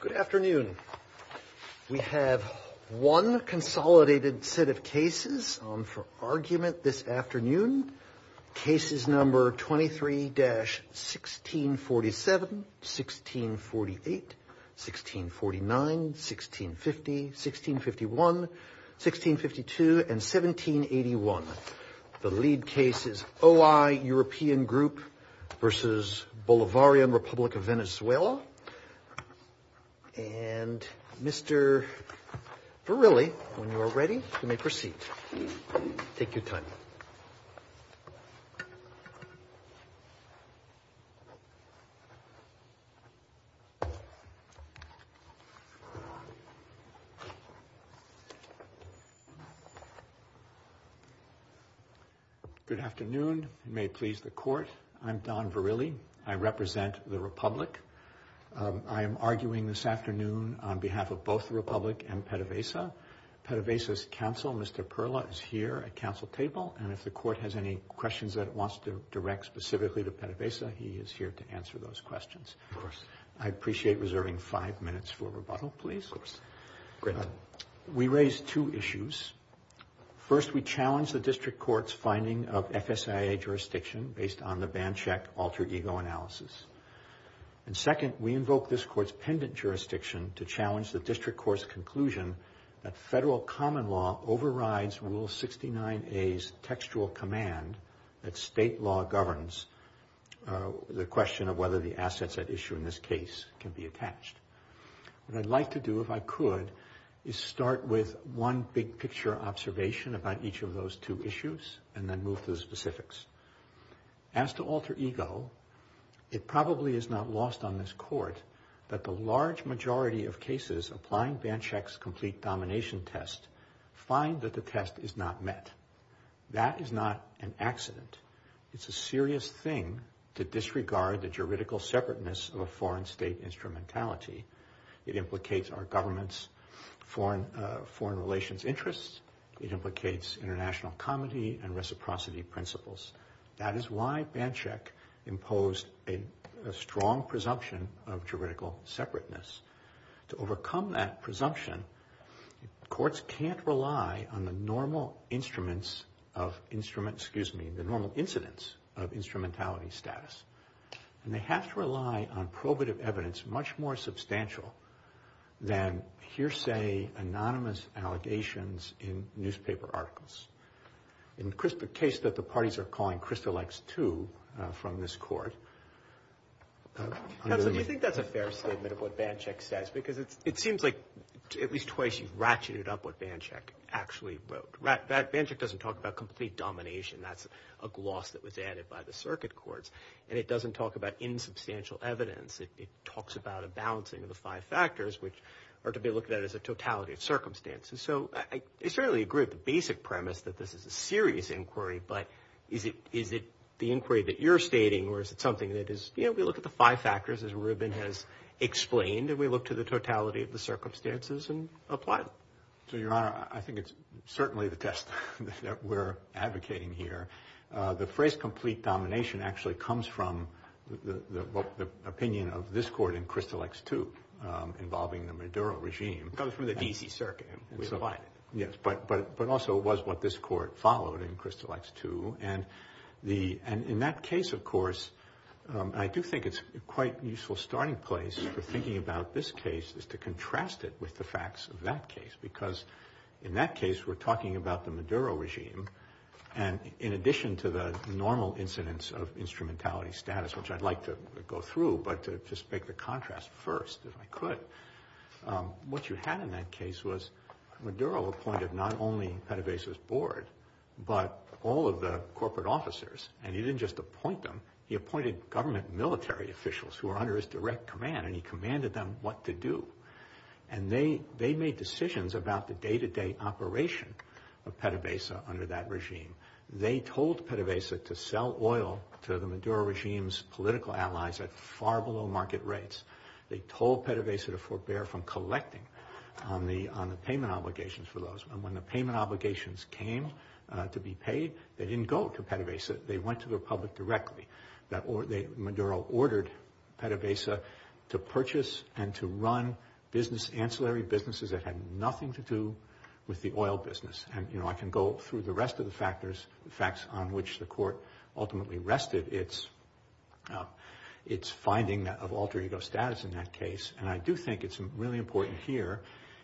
Good afternoon. We have one consolidated set of cases for argument this afternoon. Cases number 23-1647, 1648, 1649, 1650, 1651, 1652, and 1781. The lead case is OI European Group v. Bolivarian Republic of Venezuela. And Mr. Verrilli, when you are ready, you may proceed. Take your time. Good afternoon. You may please the court. I'm Don Verrilli. I represent the Republic. I am arguing this afternoon on behalf of both the Republic and PDVSA. PDVSA's counsel, Mr. Perla, is here at council table. And if the court has any questions that it wants to direct specifically to PDVSA, he is here to answer those questions. Of course. I appreciate reserving five minutes for rebuttal, please. Of course. Great. We raised two issues. First, we challenged the district court's finding of FSIA jurisdiction based on the ban check alter ego analysis. And second, we invoked this court's pendant jurisdiction to challenge the district court's conclusion that federal common law overrides Rule 69A's textual command that state law governs the question of whether the assets at issue in this case can be attached. What I'd like to do, if I could, is start with one big picture observation about each of those two issues and then move to the specifics. As to alter ego, it probably is not lost on this court that the large majority of cases applying ban check's complete domination test find that the test is not met. That is not an accident. It's a serious thing to disregard the juridical separateness of a foreign state instrumentality. It implicates our government's foreign relations interests. It implicates international comity and reciprocity principles. That is why ban check imposed a strong presumption of juridical separateness. To overcome that presumption, courts can't rely on the normal instruments of instrument, excuse me, the normal incidence of instrumentality status. And they have to rely on probative evidence much more substantial than hearsay anonymous allegations in newspaper articles. In the case that the parties are calling Crystal X2 from this court. Do you think that's a fair statement of what ban check says? Because it seems like at least twice you've ratcheted up what ban check actually wrote. Ban check doesn't talk about complete domination. That's a gloss that was added by the circuit courts. And it doesn't talk about insubstantial evidence. It talks about a balancing of the five factors, which are to be looked at as a totality of circumstances. So I certainly agree with the basic premise that this is a serious inquiry, but is it the inquiry that you're stating or is it something that is, you know, we look at the five factors as Rubin has explained and we look to the totality of the circumstances and apply them. So, Your Honor, I think it's certainly the test that we're advocating here. The phrase complete domination actually comes from the opinion of this court in Crystal X2 involving the Maduro regime. It comes from the D.C. circuit and we apply it. Yes, but also it was what this court followed in Crystal X2. And in that case, of course, I do think it's quite a useful starting place for thinking about this case is to contrast it with the facts of that case because in that case we're talking about the Maduro regime. And in addition to the normal incidence of instrumentality status, which I'd like to go through, but to just make the contrast first if I could, what you had in that case was Maduro appointed not only PDVSA's board, but all of the corporate officers. And he didn't just appoint them. He appointed government military officials who were under his direct command and he commanded them what to do. And they made decisions about the day-to-day operation of PDVSA under that regime. They told PDVSA to sell oil to the Maduro regime's political allies at far below market rates. They told PDVSA to forbear from collecting on the payment obligations for those. And when the payment obligations came to be paid, they didn't go to PDVSA. They went to the public directly. Maduro ordered PDVSA to purchase and to run business, ancillary businesses that had nothing to do with the oil business. And, you know, I can go through the rest of the factors, the facts on which the court ultimately rested its finding of alter ego status in that case. And I do think it's really important here,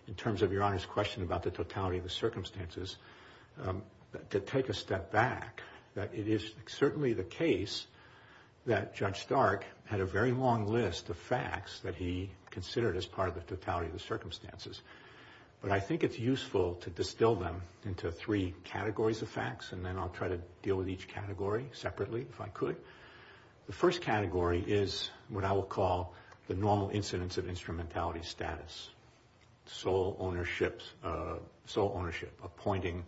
in terms of Your Honor's question about the totality of the circumstances, to take a step back. It is certainly the case that Judge Stark had a very long list of facts that he considered as part of the totality of the circumstances. But I think it's useful to distill them into three categories of facts, and then I'll try to deal with each category separately if I could. The first category is what I will call the normal incidence of instrumentality status, sole ownership, appointing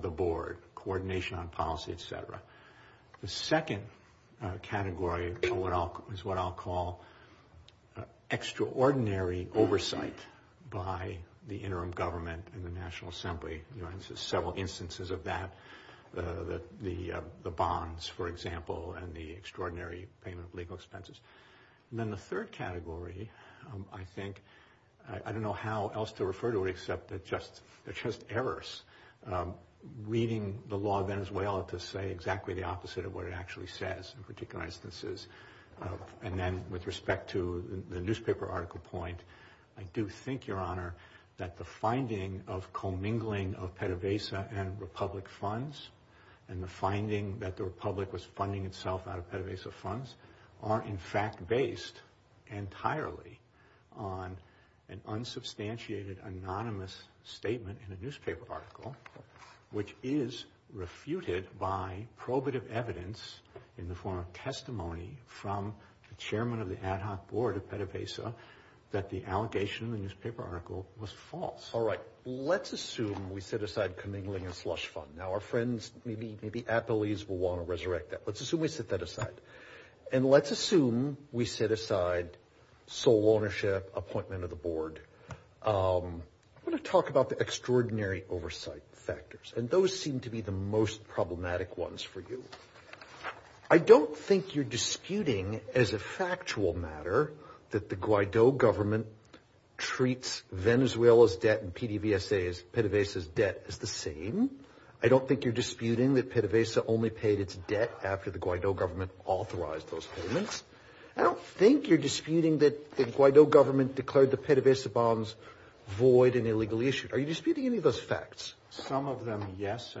the board, coordination on policy, et cetera. The second category is what I'll call extraordinary oversight by the interim government and the National Assembly. There are several instances of that, the bonds, for example, and the extraordinary payment of legal expenses. And then the third category, I think, I don't know how else to refer to it, but they're just errors. Reading the law of Venezuela to say exactly the opposite of what it actually says, in particular instances. And then with respect to the newspaper article point, I do think, Your Honor, that the finding of commingling of PDVSA and Republic funds, and the finding that the Republic was funding itself out of PDVSA funds, are, in fact, based entirely on an unsubstantiated anonymous statement in a newspaper article, which is refuted by probative evidence in the form of testimony from the chairman of the ad hoc board of PDVSA that the allegation in the newspaper article was false. All right. Let's assume we set aside commingling and slush fund. Now, our friends, maybe athletes, will want to resurrect that. Let's assume we set that aside. And let's assume we set aside sole ownership, appointment of the board. I want to talk about the extraordinary oversight factors, and those seem to be the most problematic ones for you. I don't think you're disputing, as a factual matter, that the Guaido government treats Venezuela's debt and PDVSA's, PDVSA's debt, as the same. I don't think you're disputing that PDVSA only paid its debt after the Guaido government authorized those payments. I don't think you're disputing that the Guaido government declared the PDVSA bonds void and illegally issued. Are you disputing any of those facts? Some of them, yes,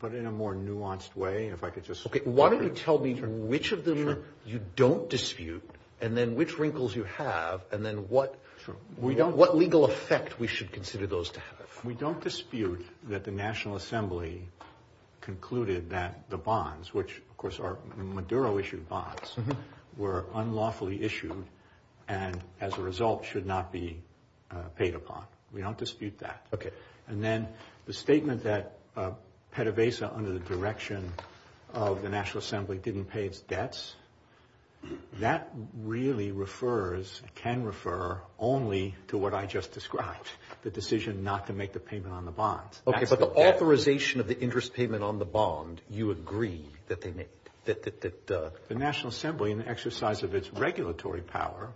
but in a more nuanced way. Okay. Why don't you tell me which of them you don't dispute and then which wrinkles you have and then what legal effect we should consider those to have. We don't dispute that the National Assembly concluded that the bonds, which, of course, are Maduro-issued bonds, were unlawfully issued and, as a result, should not be paid upon. We don't dispute that. And then the statement that PDVSA, under the direction of the National Assembly, didn't pay its debts, that really refers, can refer, only to what I just described, the decision not to make the payment on the bonds. Okay, but the authorization of the interest payment on the bond, you agree that they made? The National Assembly, in the exercise of its regulatory power,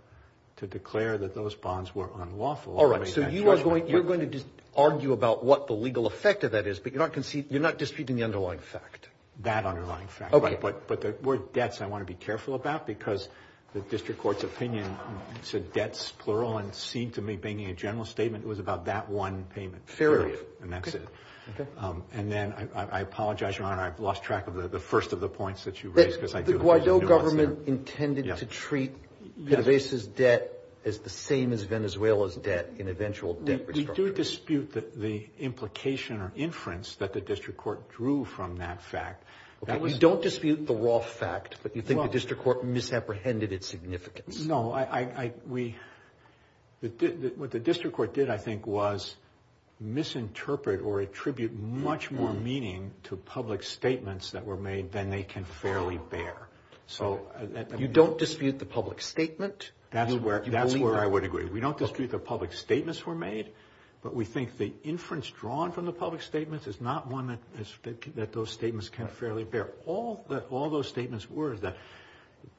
to declare that those bonds were unlawful. All right, so you are going to argue about what the legal effect of that is, but you're not disputing the underlying fact? That underlying fact. Okay. But the word debts I want to be careful about because the district court's opinion said debts, plural, and seemed to me, making a general statement, it was about that one payment. Fair enough. And that's it. And then, I apologize, Your Honor, I've lost track of the first of the points that you raised. The Guaido government intended to treat PDVSA's debt as the same as Venezuela's debt in eventual debt restructuring. We do dispute the implication or inference that the district court drew from that fact. You don't dispute the raw fact, but you think the district court misapprehended its significance. No, what the district court did, I think, was misinterpret or attribute much more meaning to public statements that were made than they can fairly bear. You don't dispute the public statement? That's where I would agree. We don't dispute the public statements were made, but we think the inference drawn from the public statements is not one that those statements can fairly bear. All those statements were that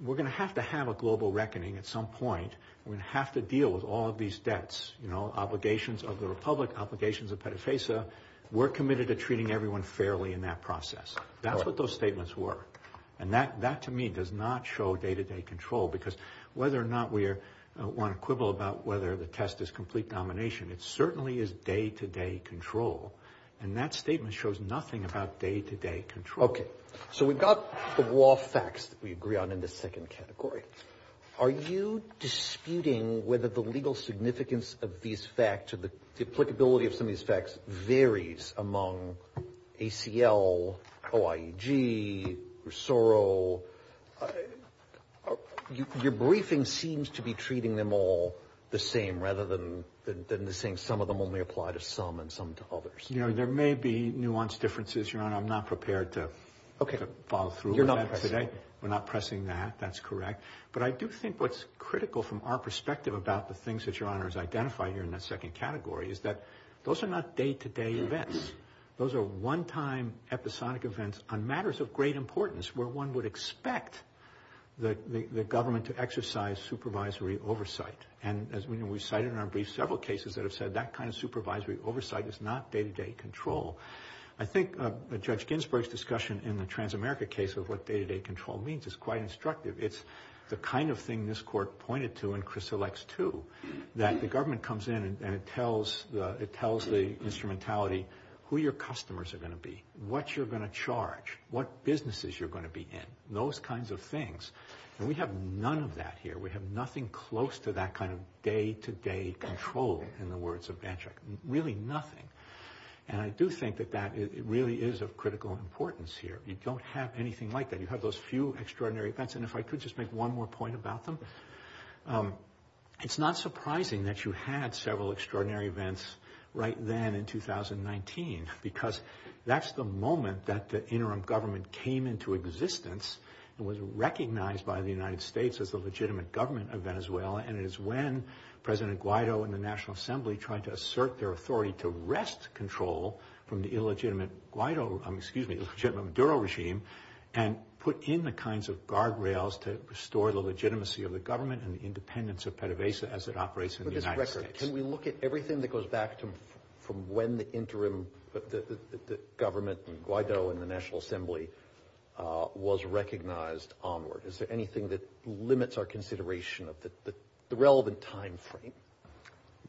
we're going to have to have a global reckoning at some point. We're going to have to deal with all of these debts, you know, obligations of the Republic, obligations of PDVSA. We're committed to treating everyone fairly in that process. That's what those statements were. And that, to me, does not show day-to-day control because whether or not we want to quibble about whether the test is complete domination, it certainly is day-to-day control. And that statement shows nothing about day-to-day control. Okay. So we've got the law facts that we agree on in this second category. Are you disputing whether the legal significance of these facts or the applicability of some of these facts varies among ACL, OIEG, Rosoro? Your briefing seems to be treating them all the same rather than saying some of them only apply to some and some to others. You know, there may be nuanced differences, Your Honor. I'm not prepared to follow through with that today. You're not pressing? We're not pressing that. That's correct. But I do think what's critical from our perspective about the things that Your Honor has identified here in that second category is that those are not day-to-day events. Those are one-time, episodic events on matters of great importance where one would expect the government to exercise supervisory oversight. And, as we know, we've cited in our brief several cases that have said that kind of supervisory oversight is not day-to-day control. I think Judge Ginsburg's discussion in the Transamerica case of what day-to-day control means is quite instructive. It's the kind of thing this Court pointed to and Chris elects to, that the government comes in and it tells the instrumentality who your customers are going to be, what you're going to charge, what businesses you're going to be in, those kinds of things. And we have none of that here. We have nothing close to that kind of day-to-day control, in the words of Dantrak, really nothing. And I do think that that really is of critical importance here. You don't have anything like that. You have those few extraordinary events. And if I could just make one more point about them, it's not surprising that you had several extraordinary events right then in 2019 because that's the moment that the interim government came into existence and was recognized by the United States as the legitimate government of Venezuela, and it is when President Guaido and the National Assembly tried to assert their authority to wrest control from the illegitimate Maduro regime and put in the kinds of guardrails to restore the legitimacy of the government and the independence of PDVSA as it operates in the United States. Can we look at everything that goes back from when the interim government, Guaido and the National Assembly, was recognized onward? Is there anything that limits our consideration of the relevant time frame?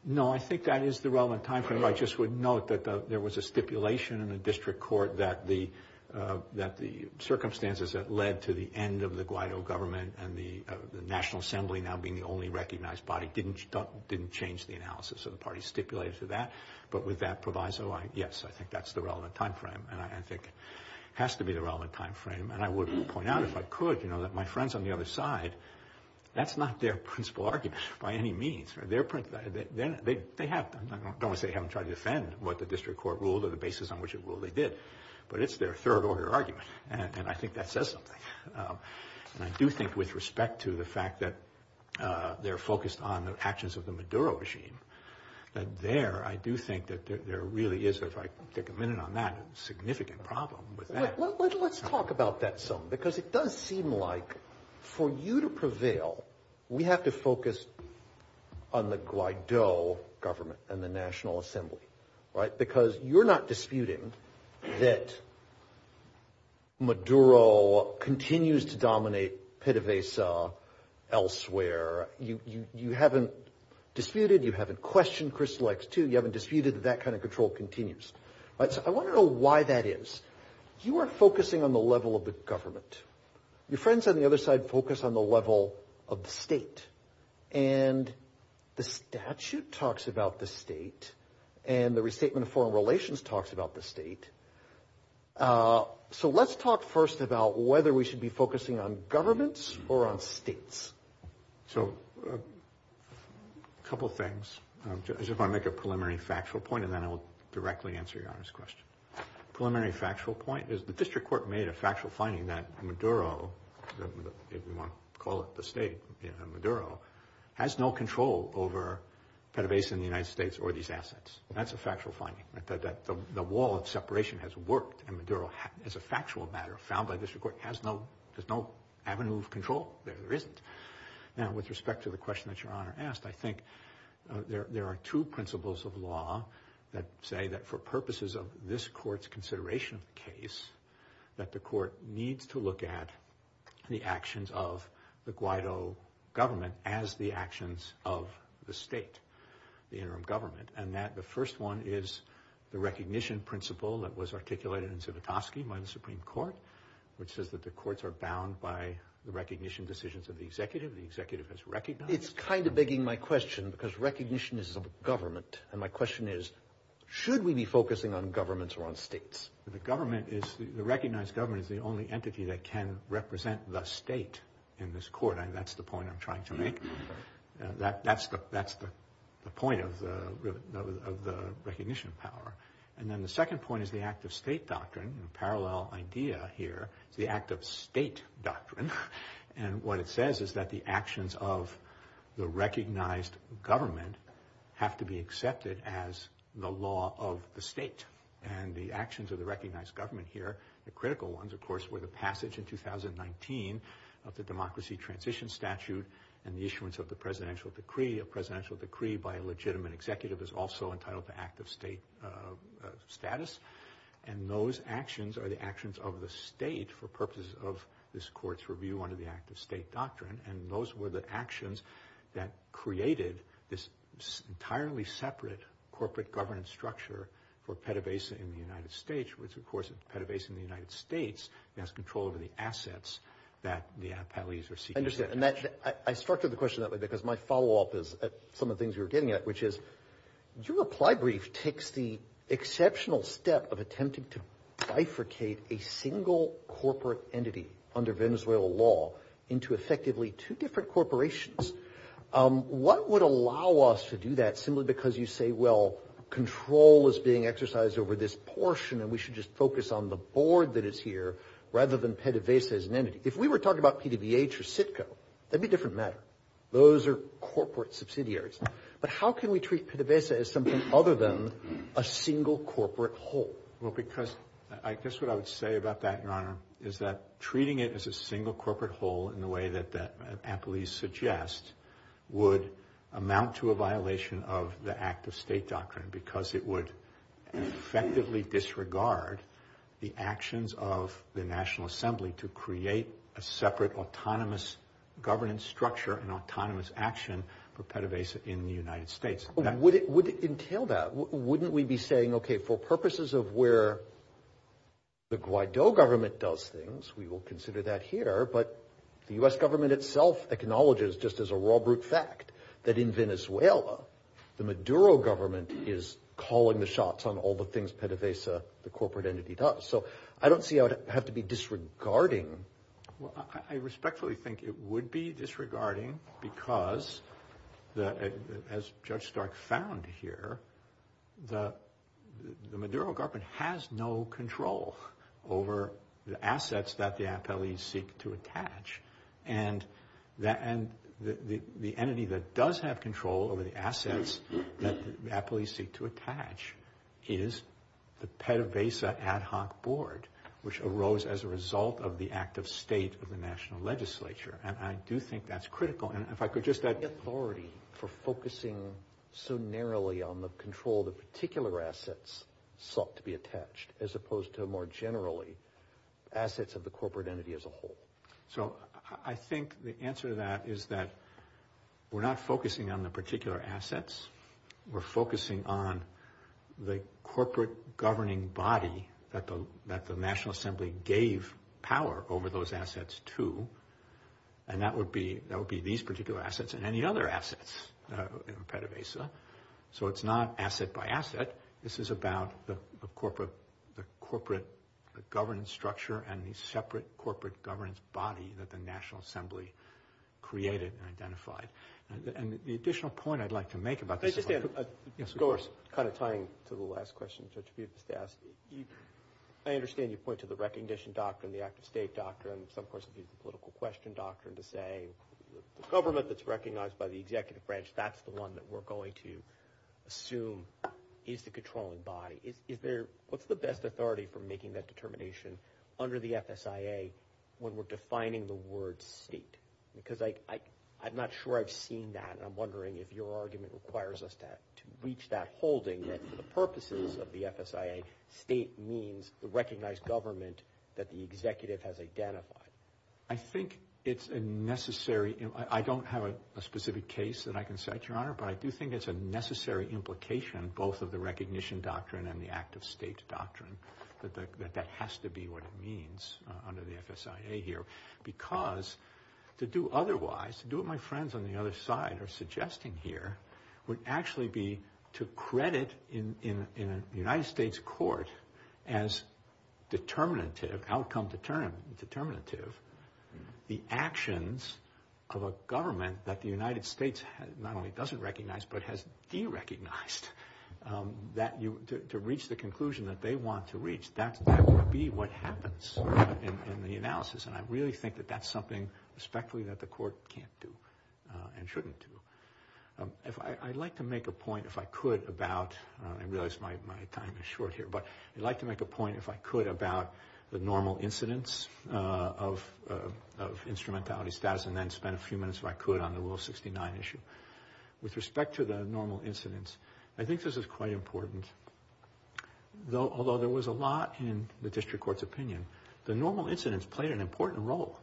No, I think that is the relevant time frame. I just would note that there was a stipulation in the district court that the circumstances that led to the end of the Guaido government and the National Assembly now being the only recognized body didn't change the analysis of the parties stipulated to that. But with that proviso, yes, I think that's the relevant time frame and I think it has to be the relevant time frame. And I would point out, if I could, that my friends on the other side, that's not their principal argument by any means. They have, I don't want to say they haven't tried to defend what the district court ruled or the basis on which it ruled they did, but it's their third order argument and I think that says something. And I do think with respect to the fact that they're focused on the actions of the Maduro regime, that there, I do think that there really is, if I could take a minute on that, a significant problem with that. Let's talk about that some, because it does seem like for you to prevail, we have to focus on the Guaido government and the National Assembly. Because you're not disputing that Maduro continues to dominate PDVSA elsewhere. You haven't disputed, you haven't questioned Crystal X2, you haven't disputed that that kind of control continues. So I want to know why that is. You are focusing on the level of the government. Your friends on the other side focus on the level of the state. And the statute talks about the state and the restatement of foreign relations talks about the state. So let's talk first about whether we should be focusing on governments or on states. So a couple things. I just want to make a preliminary factual point and then I will directly answer Your Honor's question. Preliminary factual point is the district court made a factual finding that Maduro, if you want to call it the state, Maduro, has no control over PDVSA in the United States or these assets. That's a factual finding. The wall of separation has worked and Maduro, as a factual matter found by the district court, has no avenue of control. There isn't. Now with respect to the question that Your Honor asked, I think there are two principles of law that say that for purposes of this court's consideration of the case, that the court needs to look at the actions of the Guaido government as the actions of the state, the interim government. And that the first one is the recognition principle that was articulated in Zivotofsky by the Supreme Court, which says that the courts are bound by the recognition decisions of the executive. The executive has recognized. It's kind of begging my question because recognition is of government. And my question is, should we be focusing on governments or on states? The government is, the recognized government is the only entity that can represent the state in this court. And that's the point I'm trying to make. That's the point of the recognition power. And then the second point is the act of state doctrine. A parallel idea here is the act of state doctrine. And what it says is that the actions of the recognized government have to be accepted as the law of the state. And the actions of the recognized government here, the critical ones, of course, were the passage in 2019 of the democracy transition statute and the issuance of the presidential decree. A presidential decree by a legitimate executive is also entitled the act of state status. And those actions are the actions of the state for purposes of this court's review under the act of state doctrine. And those were the actions that created this entirely separate corporate governance structure for PDVSA in the United States, which, of course, PDVSA in the United States has control over the assets that the appellees are seeking. I understand. And I structured the question that way because my follow-up is some of the things we were getting at, which is your reply brief takes the exceptional step of attempting to bifurcate a single corporate entity under Venezuelan law into effectively two different corporations. What would allow us to do that simply because you say, well, control is being exercised over this portion and we should just focus on the board that is here rather than PDVSA as an entity? If we were talking about PDVH or CITCO, that would be a different matter. Those are corporate subsidiaries. But how can we treat PDVSA as something other than a single corporate whole? Well, because I guess what I would say about that, Your Honor, is that treating it as a single corporate whole in the way that the appellees suggest would amount to a violation of the act of state doctrine because it would effectively disregard the actions of the National Assembly to create a separate autonomous governance structure and autonomous action for PDVSA in the United States. Would it entail that? Wouldn't we be saying, okay, for purposes of where the Guaido government does things, we will consider that here, but the U.S. government itself acknowledges, just as a raw brute fact, that in Venezuela, the Maduro government is calling the shots on all the things PDVSA, the corporate entity, does. So I don't see how it would have to be disregarding. Well, I respectfully think it would be disregarding because, as Judge Stark found here, the Maduro government has no control over the assets that the appellees seek to attach. And the entity that does have control over the assets that appellees seek to attach is the PDVSA ad hoc board, which arose as a result of the act of state of the national legislature. And I do think that's critical. And if I could just add... The authority for focusing so narrowly on the control of the particular assets sought to be attached as opposed to more generally assets of the corporate entity as a whole. So I think the answer to that is that we're not focusing on the particular assets. We're focusing on the corporate governing body that the National Assembly gave power over those assets to. And that would be these particular assets and any other assets in PDVSA. So it's not asset by asset. This is about the corporate governance structure and the separate corporate governance body that the National Assembly created and identified. And the additional point I'd like to make about this is... Can I just add, kind of tying to the last question Judge Bufast asked, I understand you point to the recognition doctrine, the act of state doctrine, and some person views the political question doctrine to say the government that's recognized by the executive branch, that's the one that we're going to assume is the controlling body. What's the best authority for making that determination under the FSIA when we're defining the word state? Because I'm not sure I've seen that, and I'm wondering if your argument requires us to reach that holding that for the purposes of the FSIA, state means the recognized government that the executive has identified. I think it's a necessary... I don't have a specific case that I can cite, Your Honor, but I do think it's a necessary implication, both of the recognition doctrine and the act of state doctrine, that that has to be what it means under the FSIA here. Because to do otherwise, to do what my friends on the other side are suggesting here, would actually be to credit in a United States court as determinative, outcome determinative, the actions of a government that the United States not only doesn't recognize, but has derecognized to reach the conclusion that they want to reach. That would be what happens in the analysis, and I really think that that's something respectfully that the court can't do and shouldn't do. I'd like to make a point, if I could, about... I realize my time is short here, but I'd like to make a point, if I could, about the normal incidence of instrumentality status, and then spend a few minutes, if I could, on the Will 69 issue. With respect to the normal incidence, I think this is quite important. Although there was a lot in the district court's opinion, the normal incidence played an important role.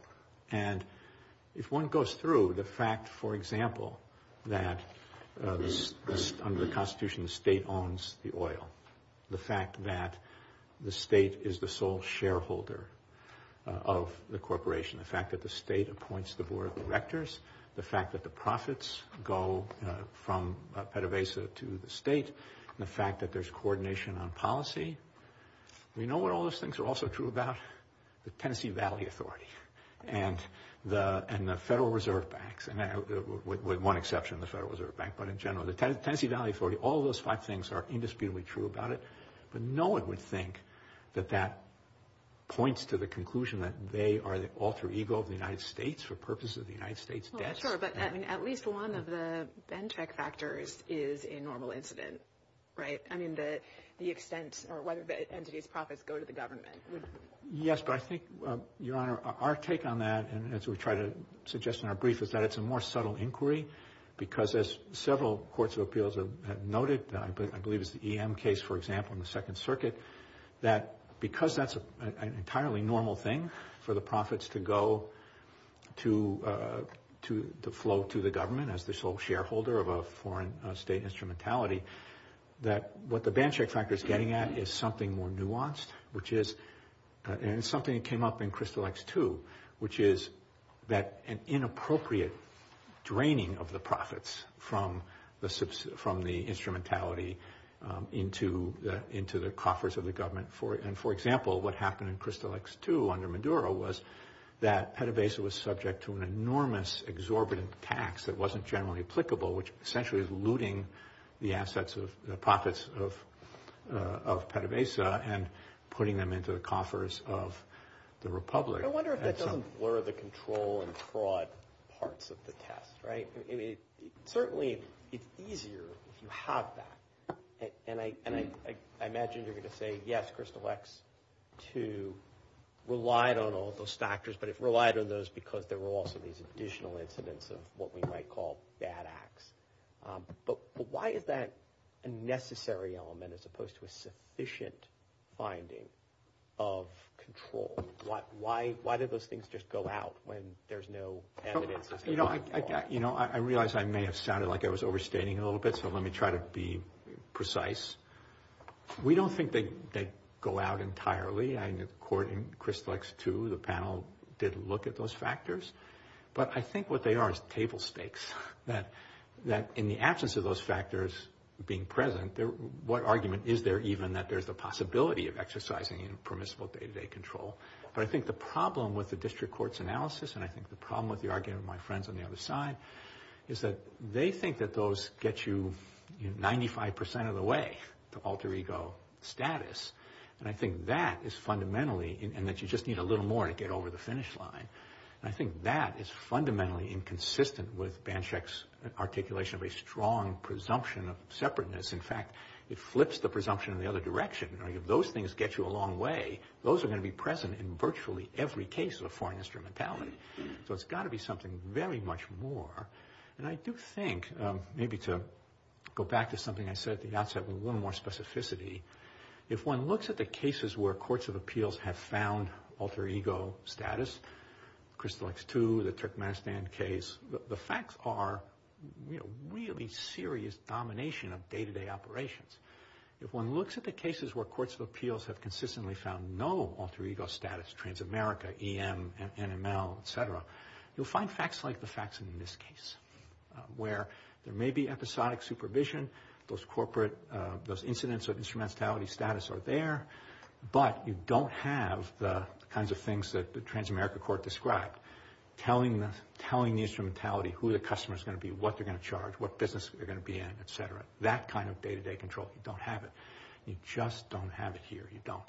If one goes through the fact, for example, that under the Constitution, the state owns the oil. The fact that the state is the sole shareholder of the corporation. The fact that the state appoints the board of directors. The fact that the profits go from Pettivesa to the state. The fact that there's coordination on policy. You know what all those things are also true about? The Tennessee Valley Authority and the Federal Reserve Banks. With one exception, the Federal Reserve Bank, but in general, the Tennessee Valley Authority. All those five things are indisputably true about it, but no one would think that that points to the conclusion that they are the alter ego of the United States for purposes of the United States debt. Sure, but at least one of the Benchmark factors is a normal incident, right? I mean, the extent or whether the entity's profits go to the government. Yes, but I think, Your Honor, our take on that, as we try to suggest in our brief, is that it's a more subtle inquiry because as several courts of appeals have noted, I believe it's the EM case, for example, in the Second Circuit, that because that's an entirely normal thing for the profits to go to the flow to the government as the sole shareholder of a foreign state instrumentality, that what the Benchmark factor is getting at is something more nuanced, and it's something that came up in Crystal X-2, which is that an inappropriate draining of the profits from the instrumentality into the coffers of the government. For example, what happened in Crystal X-2 under Maduro was that Petabasa was subject to an enormous exorbitant tax that wasn't generally applicable, which essentially is looting the assets of the profits of Petabasa and putting them into the coffers of the republic. I wonder if that doesn't blur the control and fraud parts of the test, right? Certainly, it's easier if you have that, and I imagine you're going to say, yes, Crystal X-2 relied on all those factors, but it relied on those because there were also these additional incidents of what we might call bad acts. But why is that a necessary element as opposed to a sufficient finding of control? Why do those things just go out when there's no evidence? I realize I may have sounded like I was overstating a little bit, so let me try to be precise. We don't think they go out entirely. According to Crystal X-2, the panel did look at those factors, but I think what they are is table stakes, that in the absence of those factors being present, what argument is there even that there's a possibility of exercising permissible day-to-day control? But I think the problem with the district court's analysis and I think the problem with the argument of my friends on the other side is that they think that those get you 95% of the way to alter ego status, and I think that is fundamentally, and that you just need a little more to get over the finish line. I think that is fundamentally inconsistent with Banshek's articulation of a strong presumption of separateness. In fact, it flips the presumption in the other direction. If those things get you a long way, those are going to be present in virtually every case of foreign instrumentality. So it's got to be something very much more, and I do think, maybe to go back to something I said at the outset with a little more specificity, if one looks at the cases where courts of appeals have found alter ego status, Crystal X-2, the Turkmenistan case, the facts are really serious domination of day-to-day operations. If one looks at the cases where courts of appeals have consistently found no alter ego status, Transamerica, EM, NML, et cetera, you'll find facts like the facts in this case, where there may be episodic supervision, those corporate, those incidents of instrumentality status are there, but you don't have the kinds of things that the Transamerica court described, telling the instrumentality who the customer is going to be, what they're going to charge, what business they're going to be in, et cetera, that kind of day-to-day control. You don't have it. You just don't have it here. You don't.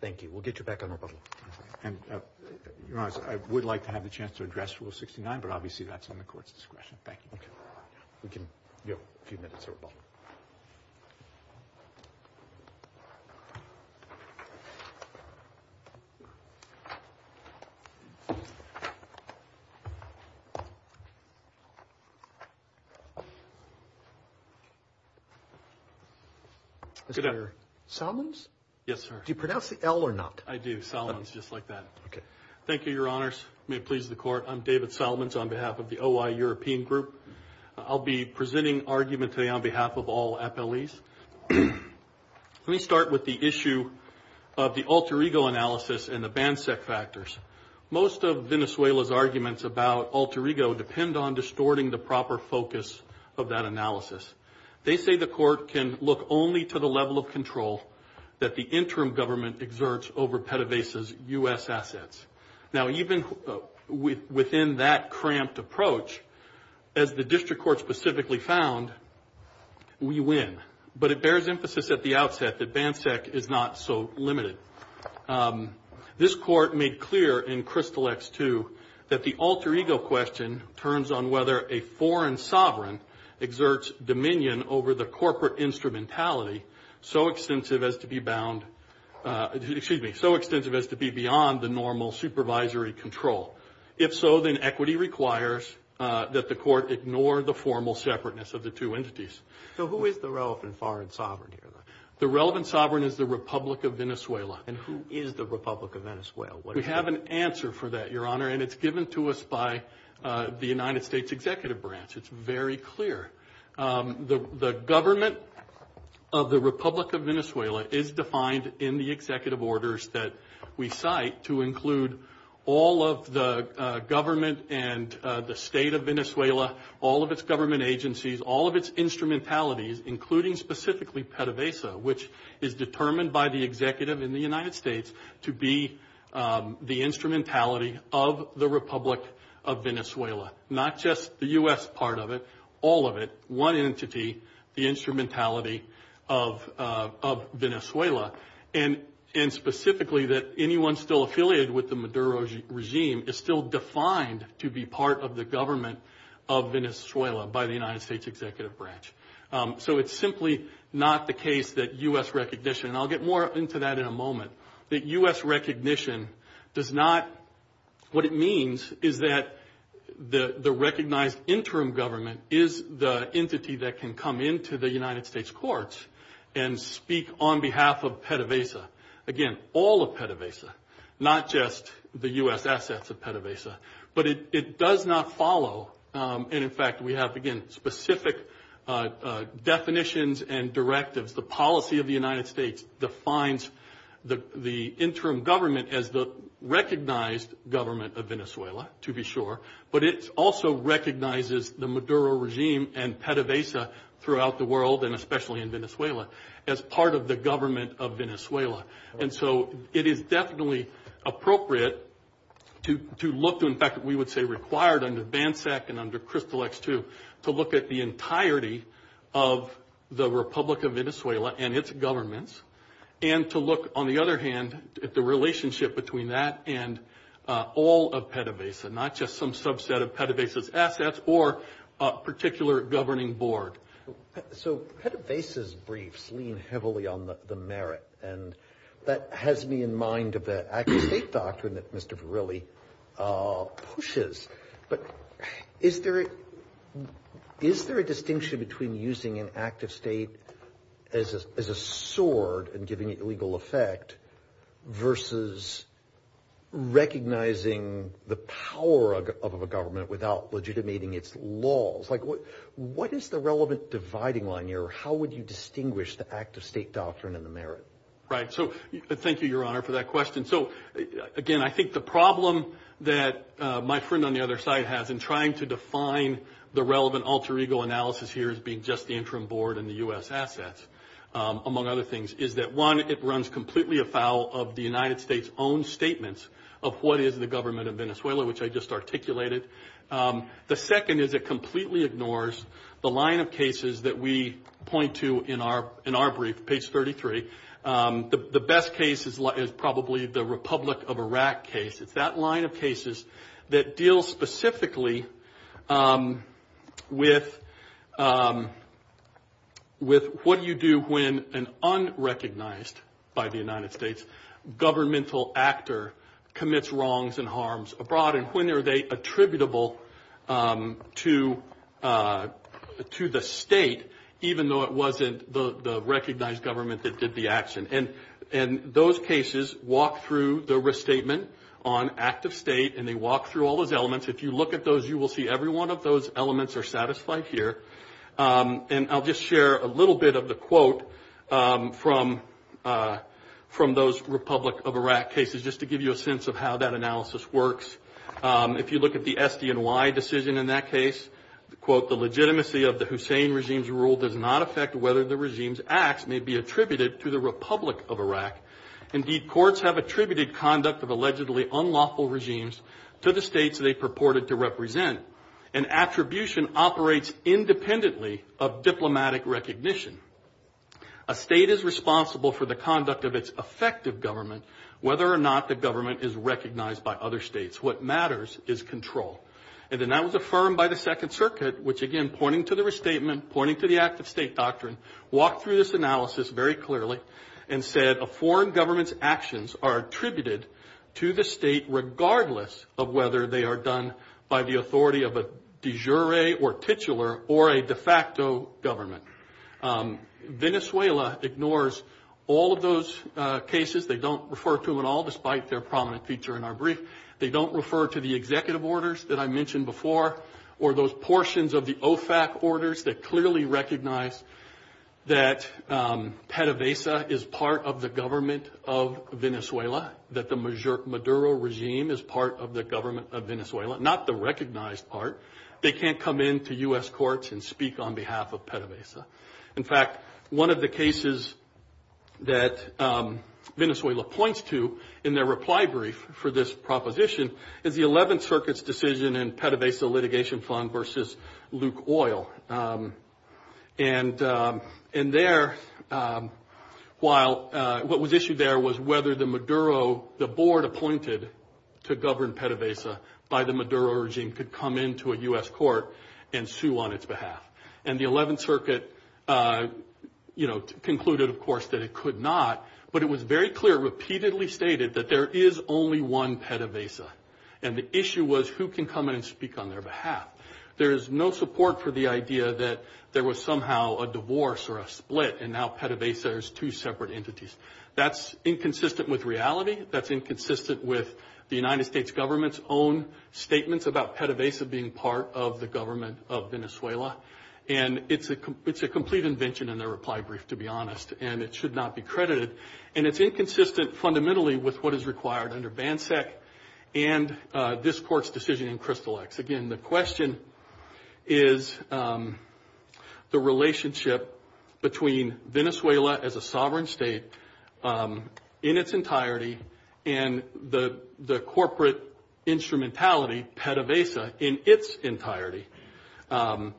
Thank you. We'll get you back on rebuttal. Your Honor, I would like to have the chance to address Rule 69, but obviously that's on the court's discretion. Thank you. Okay. We can give a few minutes of rebuttal. Mr. Solins? Yes, sir. Do you pronounce the L or not? I do. Solins, just like that. Okay. Thank you, Your Honors. May it please the Court. I'm David Solins on behalf of the OI European Group. I'll be presenting argument today on behalf of all appellees. Let me start with the issue of the alter ego analysis and the BANSEC factors. Most of Venezuela's arguments about alter ego depend on distorting the proper focus of that analysis. They say the court can look only to the level of control that the interim government exerts over PDVSA's U.S. assets. Now, even within that cramped approach, as the district court specifically found, we win. But it bears emphasis at the outset that BANSEC is not so limited. This court made clear in Crystal X-2 that the alter ego question turns on whether a foreign sovereign exerts dominion over the corporate instrumentality so extensive as to be beyond the normal supervisory control. If so, then equity requires that the court ignore the formal separateness of the two entities. So who is the relevant foreign sovereign here? The relevant sovereign is the Republic of Venezuela. And who is the Republic of Venezuela? We have an answer for that, Your Honor, and it's given to us by the United States Executive Branch. It's very clear. The government of the Republic of Venezuela is defined in the executive orders that we cite to include all of the government and the state of Venezuela, all of its government agencies, all of its instrumentalities, including specifically PDVSA, which is determined by the executive in the United States to be the instrumentality of the Republic of Venezuela. Not just the U.S. part of it, all of it, one entity, the instrumentality of Venezuela. And specifically that anyone still affiliated with the Maduro regime is still defined to be part of the government of Venezuela by the United States Executive Branch. So it's simply not the case that U.S. recognition, and I'll get more into that in a moment, that U.S. recognition does not, what it means is that the recognized interim government is the entity that can come into the United States courts and speak on behalf of PDVSA, again, all of PDVSA, not just the U.S. assets of PDVSA. But it does not follow, and, in fact, we have, again, specific definitions and directives. The policy of the United States defines the interim government as the recognized government of Venezuela, to be sure, but it also recognizes the Maduro regime and PDVSA throughout the world, and especially in Venezuela, as part of the government of Venezuela. And so it is definitely appropriate to look to, in fact, we would say required under BANSEC and under Crystal X2, to look at the entirety of the Republic of Venezuela and its governments, and to look, on the other hand, at the relationship between that and all of PDVSA, not just some subset of PDVSA's assets or a particular governing board. So PDVSA's briefs lean heavily on the merit, and that has me in mind of the active state doctrine that Mr. Verrilli pushes. But is there a distinction between using an active state as a sword and giving it legal effect versus recognizing the power of a government without legitimating its laws? Like, what is the relevant dividing line here, or how would you distinguish the active state doctrine and the merit? Right. So thank you, Your Honor, for that question. So, again, I think the problem that my friend on the other side has in trying to define the relevant alter ego analysis here as being just the interim board and the U.S. assets, among other things, is that, one, it runs completely afoul of the United States' own statements of what is the government of Venezuela, which I just articulated. The second is it completely ignores the line of cases that we point to in our brief, page 33. The best case is probably the Republic of Iraq case. It's that line of cases that deals specifically with what do you do when an unrecognized by the United States governmental actor commits wrongs and harms abroad, and when are they attributable to the state, even though it wasn't the recognized government that did the action. And those cases walk through the restatement on active state, and they walk through all those elements. If you look at those, you will see every one of those elements are satisfied here. And I'll just share a little bit of the quote from those Republic of Iraq cases, just to give you a sense of how that analysis works. If you look at the SDNY decision in that case, quote, the legitimacy of the Hussein regime's rule does not affect whether the regime's acts may be attributed to the Republic of Iraq. Indeed, courts have attributed conduct of allegedly unlawful regimes to the states they purported to represent. An attribution operates independently of diplomatic recognition. A state is responsible for the conduct of its effective government, whether or not the government is recognized by other states. What matters is control. And then that was affirmed by the Second Circuit, which, again, pointing to the restatement, pointing to the active state doctrine, walked through this analysis very clearly and said a foreign government's actions are attributed to the state, regardless of whether they are done by the authority of a de jure or titular or a de facto government. Venezuela ignores all of those cases. They don't refer to them at all, despite their prominent feature in our brief. They don't refer to the executive orders that I mentioned before or those portions of the OFAC orders that clearly recognize that the Hussein regime is part of the government of Venezuela, not the recognized part. They can't come into U.S. courts and speak on behalf of PDVSA. In fact, one of the cases that Venezuela points to in their reply brief for this proposition is the Eleventh Circuit's decision in PDVSA litigation fund versus Luke Oil. And there, while what was issued there was whether the Maduro, the board appointed to govern PDVSA by the Maduro regime, could come into a U.S. court and sue on its behalf. And the Eleventh Circuit, you know, concluded, of course, that it could not. But it was very clear, repeatedly stated, that there is only one PDVSA. And the issue was who can come in and speak on their behalf. There is no support for the idea that there was somehow a divorce or a split, and now PDVSA is two separate entities. That's inconsistent with reality. That's inconsistent with the United States government's own statements about PDVSA being part of the government of Venezuela. And it's a complete invention in their reply brief, to be honest, and it should not be credited. And it's inconsistent fundamentally with what is required under BANSEC and this court's decision in CRYSTAL-X. Again, the question is the relationship between Venezuela as a sovereign state in its entirety and the corporate instrumentality, PDVSA, in its entirety,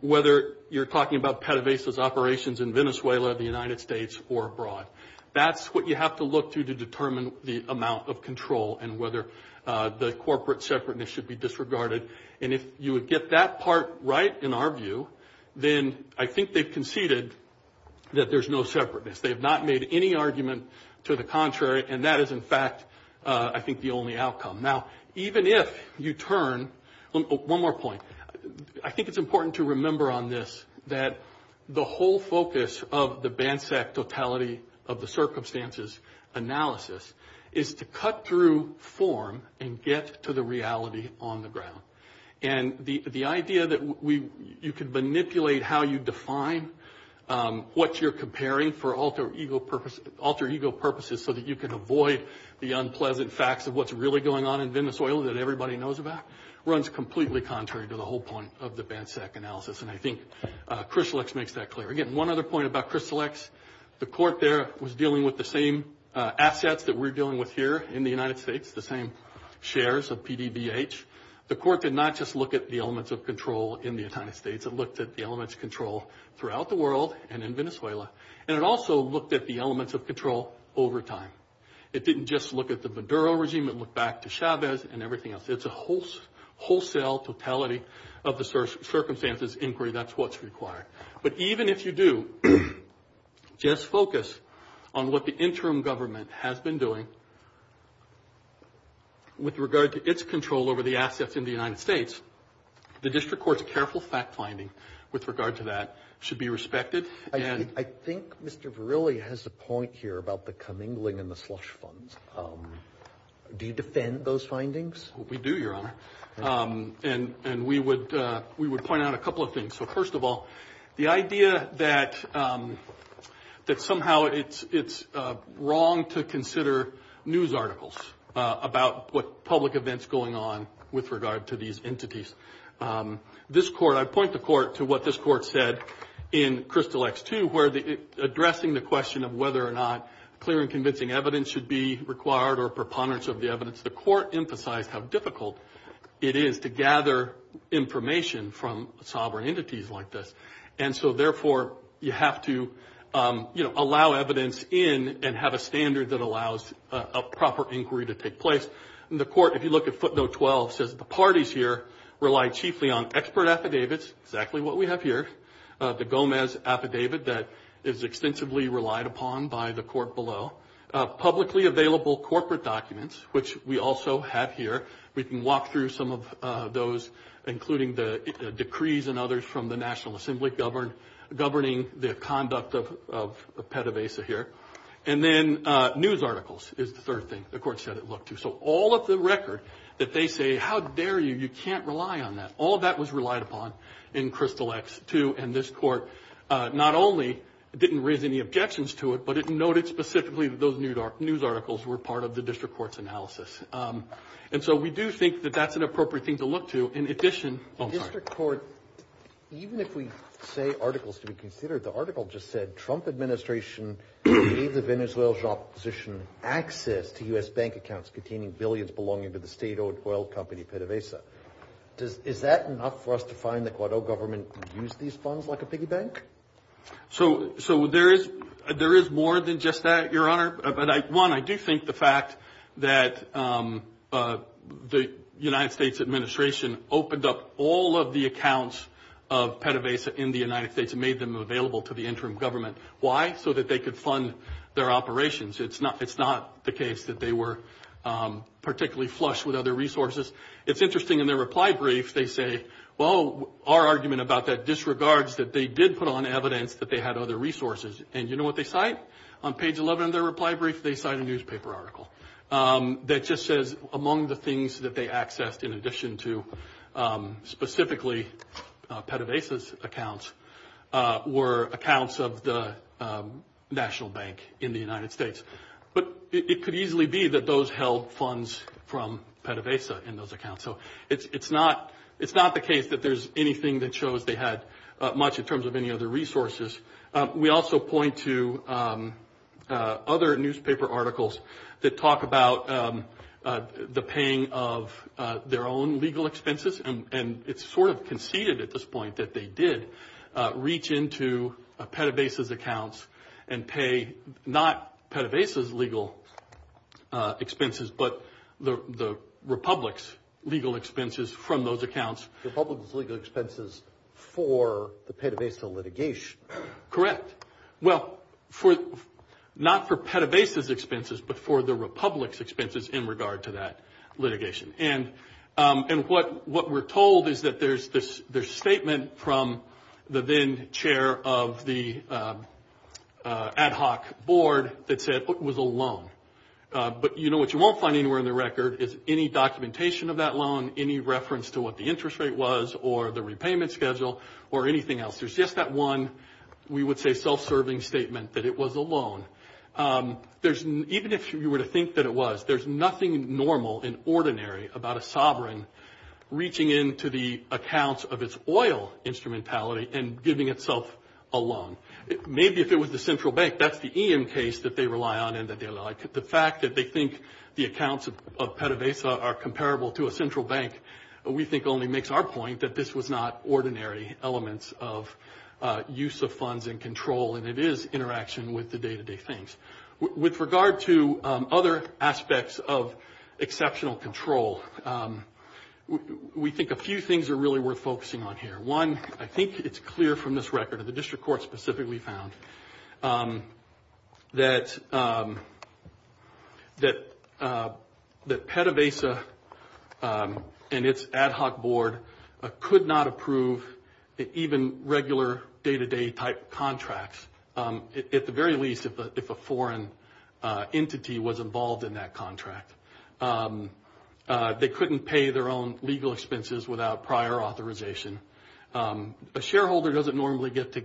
whether you're talking about PDVSA's operations in Venezuela, the United States, or abroad. That's what you have to look to to determine the amount of control and whether the corporate separateness should be disregarded. And if you would get that part right, in our view, then I think they've conceded that there's no separateness. They have not made any argument to the contrary, and that is, in fact, I think the only outcome. Now, even if you turn – one more point. I think it's important to remember on this that the whole focus of the BANSEC totality of the circumstances analysis is to cut through form and get to the reality on the ground. And the idea that you can manipulate how you define what you're comparing for alter ego purposes so that you can avoid the unpleasant facts of what's really going on in Venezuela that everybody knows about runs completely contrary to the whole point of the BANSEC analysis. And I think CRYSTAL-X makes that clear. Again, one other point about CRYSTAL-X. The court there was dealing with the same assets that we're dealing with here in the United States, the same shares of PDBH. The court did not just look at the elements of control in the United States. It looked at the elements of control throughout the world and in Venezuela. And it also looked at the elements of control over time. It didn't just look at the Maduro regime. It looked back to Chavez and everything else. It's a wholesale totality of the circumstances inquiry. That's what's required. But even if you do just focus on what the interim government has been doing with regard to its control over the assets in the United States, the district court's careful fact finding with regard to that should be respected. I think Mr. Verrilli has a point here about the commingling and the slush funds. Do you defend those findings? We do, Your Honor. And we would point out a couple of things. So, first of all, the idea that somehow it's wrong to consider news articles about what public events going on with regard to these entities. This court, I point the court to what this court said in Crystal X-2, where addressing the question of whether or not clear and convincing evidence should be required or preponderance of the evidence, the court emphasized how difficult it is to gather information from sovereign entities like this. And so, therefore, you have to allow evidence in and have a standard that allows a proper inquiry to take place. The court, if you look at footnote 12, says the parties here rely chiefly on expert affidavits, exactly what we have here, the Gomez affidavit that is extensively relied upon by the court below, publicly available corporate documents, which we also have here. We can walk through some of those, including the decrees and others from the National Assembly governing the conduct of PETAVASA here. And then news articles is the third thing the court said it looked to. So all of the record that they say, how dare you, you can't rely on that, all of that was relied upon in Crystal X-2. And this court not only didn't raise any objections to it, but it noted specifically that those news articles were part of the district court's analysis. And so we do think that that's an appropriate thing to look to. In addition, the district court, even if we say articles to be considered, the article just said Trump administration gave the Venezuelan opposition access to U.S. bank accounts containing billions belonging to the state-owned oil company PETAVASA. Is that enough for us to find that Guado government used these funds like a piggy bank? So there is more than just that, Your Honor. One, I do think the fact that the United States administration opened up all of the accounts of PETAVASA in the United States and made them available to the interim government. Why? So that they could fund their operations. It's not the case that they were particularly flush with other resources. It's interesting in their reply brief, they say, well, our argument about that disregards that they did put on evidence that they had other resources. And you know what they cite? On page 11 of their reply brief, they cite a newspaper article that just says among the things that they accessed in addition to specifically PETAVASA's accounts were accounts of the National Bank in the United States. But it could easily be that those held funds from PETAVASA in those accounts. So it's not the case that there's anything that shows they had much in terms of any other resources. We also point to other newspaper articles that talk about the paying of their own legal expenses. And it's sort of conceded at this point that they did reach into PETAVASA's accounts and pay not PETAVASA's legal expenses, but the republic's legal expenses from those accounts. The republic's legal expenses for the PETAVASA litigation. Correct. Well, not for PETAVASA's expenses, but for the republic's expenses in regard to that litigation. And what we're told is that there's a statement from the then chair of the ad hoc board that said it was a loan. But you know what you won't find anywhere in the record is any documentation of that loan, any reference to what the interest rate was or the repayment schedule or anything else. There's just that one, we would say, self-serving statement that it was a loan. Even if you were to think that it was, there's nothing normal and ordinary about a sovereign reaching into the accounts of its oil instrumentality and giving itself a loan. Maybe if it was the central bank, that's the EM case that they rely on and that they like. The fact that they think the accounts of PETAVASA are comparable to a central bank, we think only makes our point that this was not ordinary elements of use of funds and control, and it is interaction with the day-to-day things. With regard to other aspects of exceptional control, we think a few things are really worth focusing on here. One, I think it's clear from this record, and the district court specifically found, that PETAVASA and its ad hoc board could not approve even regular day-to-day type contracts, at the very least if a foreign entity was involved in that contract. They couldn't pay their own legal expenses without prior authorization. A shareholder doesn't normally get to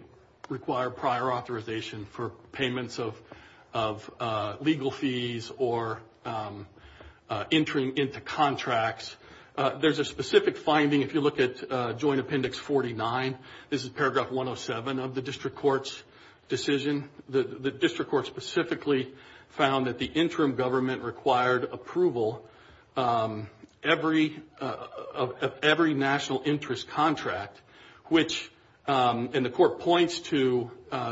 require prior authorization for payments of legal fees or entering into contracts. There's a specific finding if you look at Joint Appendix 49. This is paragraph 107 of the district court's decision. The district court specifically found that the interim government required approval of every national interest contract, and the court points to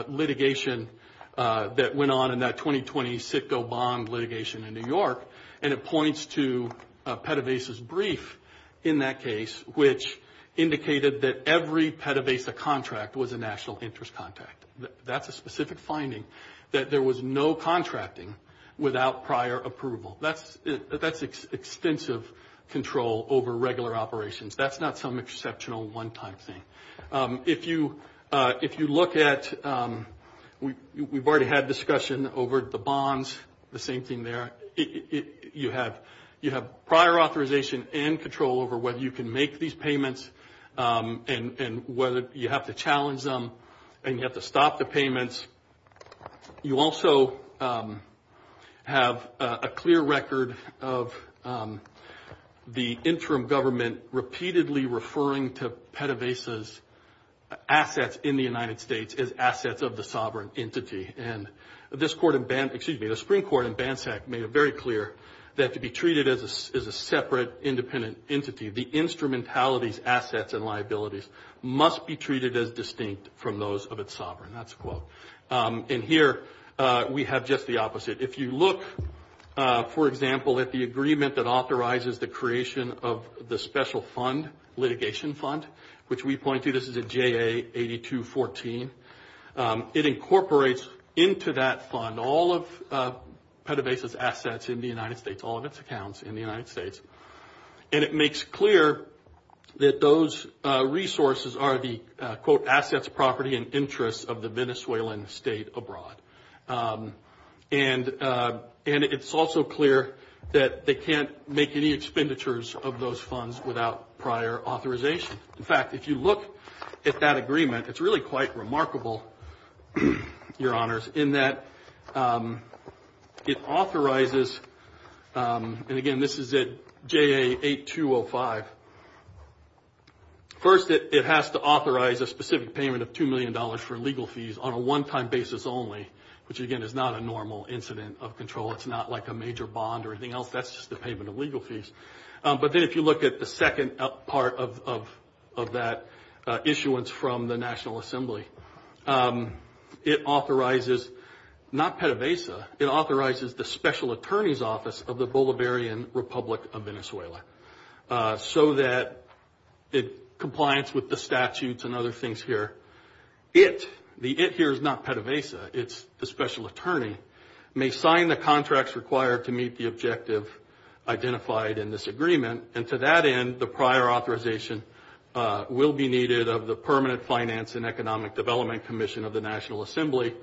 litigation that went on in that 2020 Citgo bond litigation in New York, and it points to PETAVASA's brief in that case, which indicated that every PETAVASA contract was a national interest contract. That's a specific finding, that there was no contracting without prior approval. That's extensive control over regular operations. That's not some exceptional one-time thing. If you look at, we've already had discussion over the bonds, the same thing there. You have prior authorization and control over whether you can make these payments and whether you have to challenge them and you have to stop the payments. You also have a clear record of the interim government repeatedly referring to PETAVASA's assets in the United States as assets of the sovereign entity, and the Supreme Court in BANSEC made it very clear that to be treated as a separate, independent entity, the instrumentality's assets and liabilities must be treated as distinct from those of its sovereign. That's a quote. And here we have just the opposite. If you look, for example, at the agreement that authorizes the creation of the special fund, litigation fund, which we point to, this is a JA 8214, it incorporates into that fund all of PETAVASA's assets in the United States, all of its accounts in the United States, and it makes clear that those resources are the, quote, assets, property, and interests of the Venezuelan state abroad. And it's also clear that they can't make any expenditures of those funds without prior authorization. In fact, if you look at that agreement, it's really quite remarkable, Your Honors, in that it authorizes, and, again, this is at JA 8205. First, it has to authorize a specific payment of $2 million for legal fees on a one-time basis only, which, again, is not a normal incident of control. It's not like a major bond or anything else. That's just a payment of legal fees. But then if you look at the second part of that issuance from the National Assembly, it authorizes, not PETAVASA, it authorizes the special attorney's office of the Bolivarian Republic of Venezuela so that it complies with the statutes and other things here. It, the it here is not PETAVASA, it's the special attorney, may sign the contracts required to meet the objective identified in this agreement. And to that end, the prior authorization will be needed of the Permanent Finance and Economic Development Commission of the National Assembly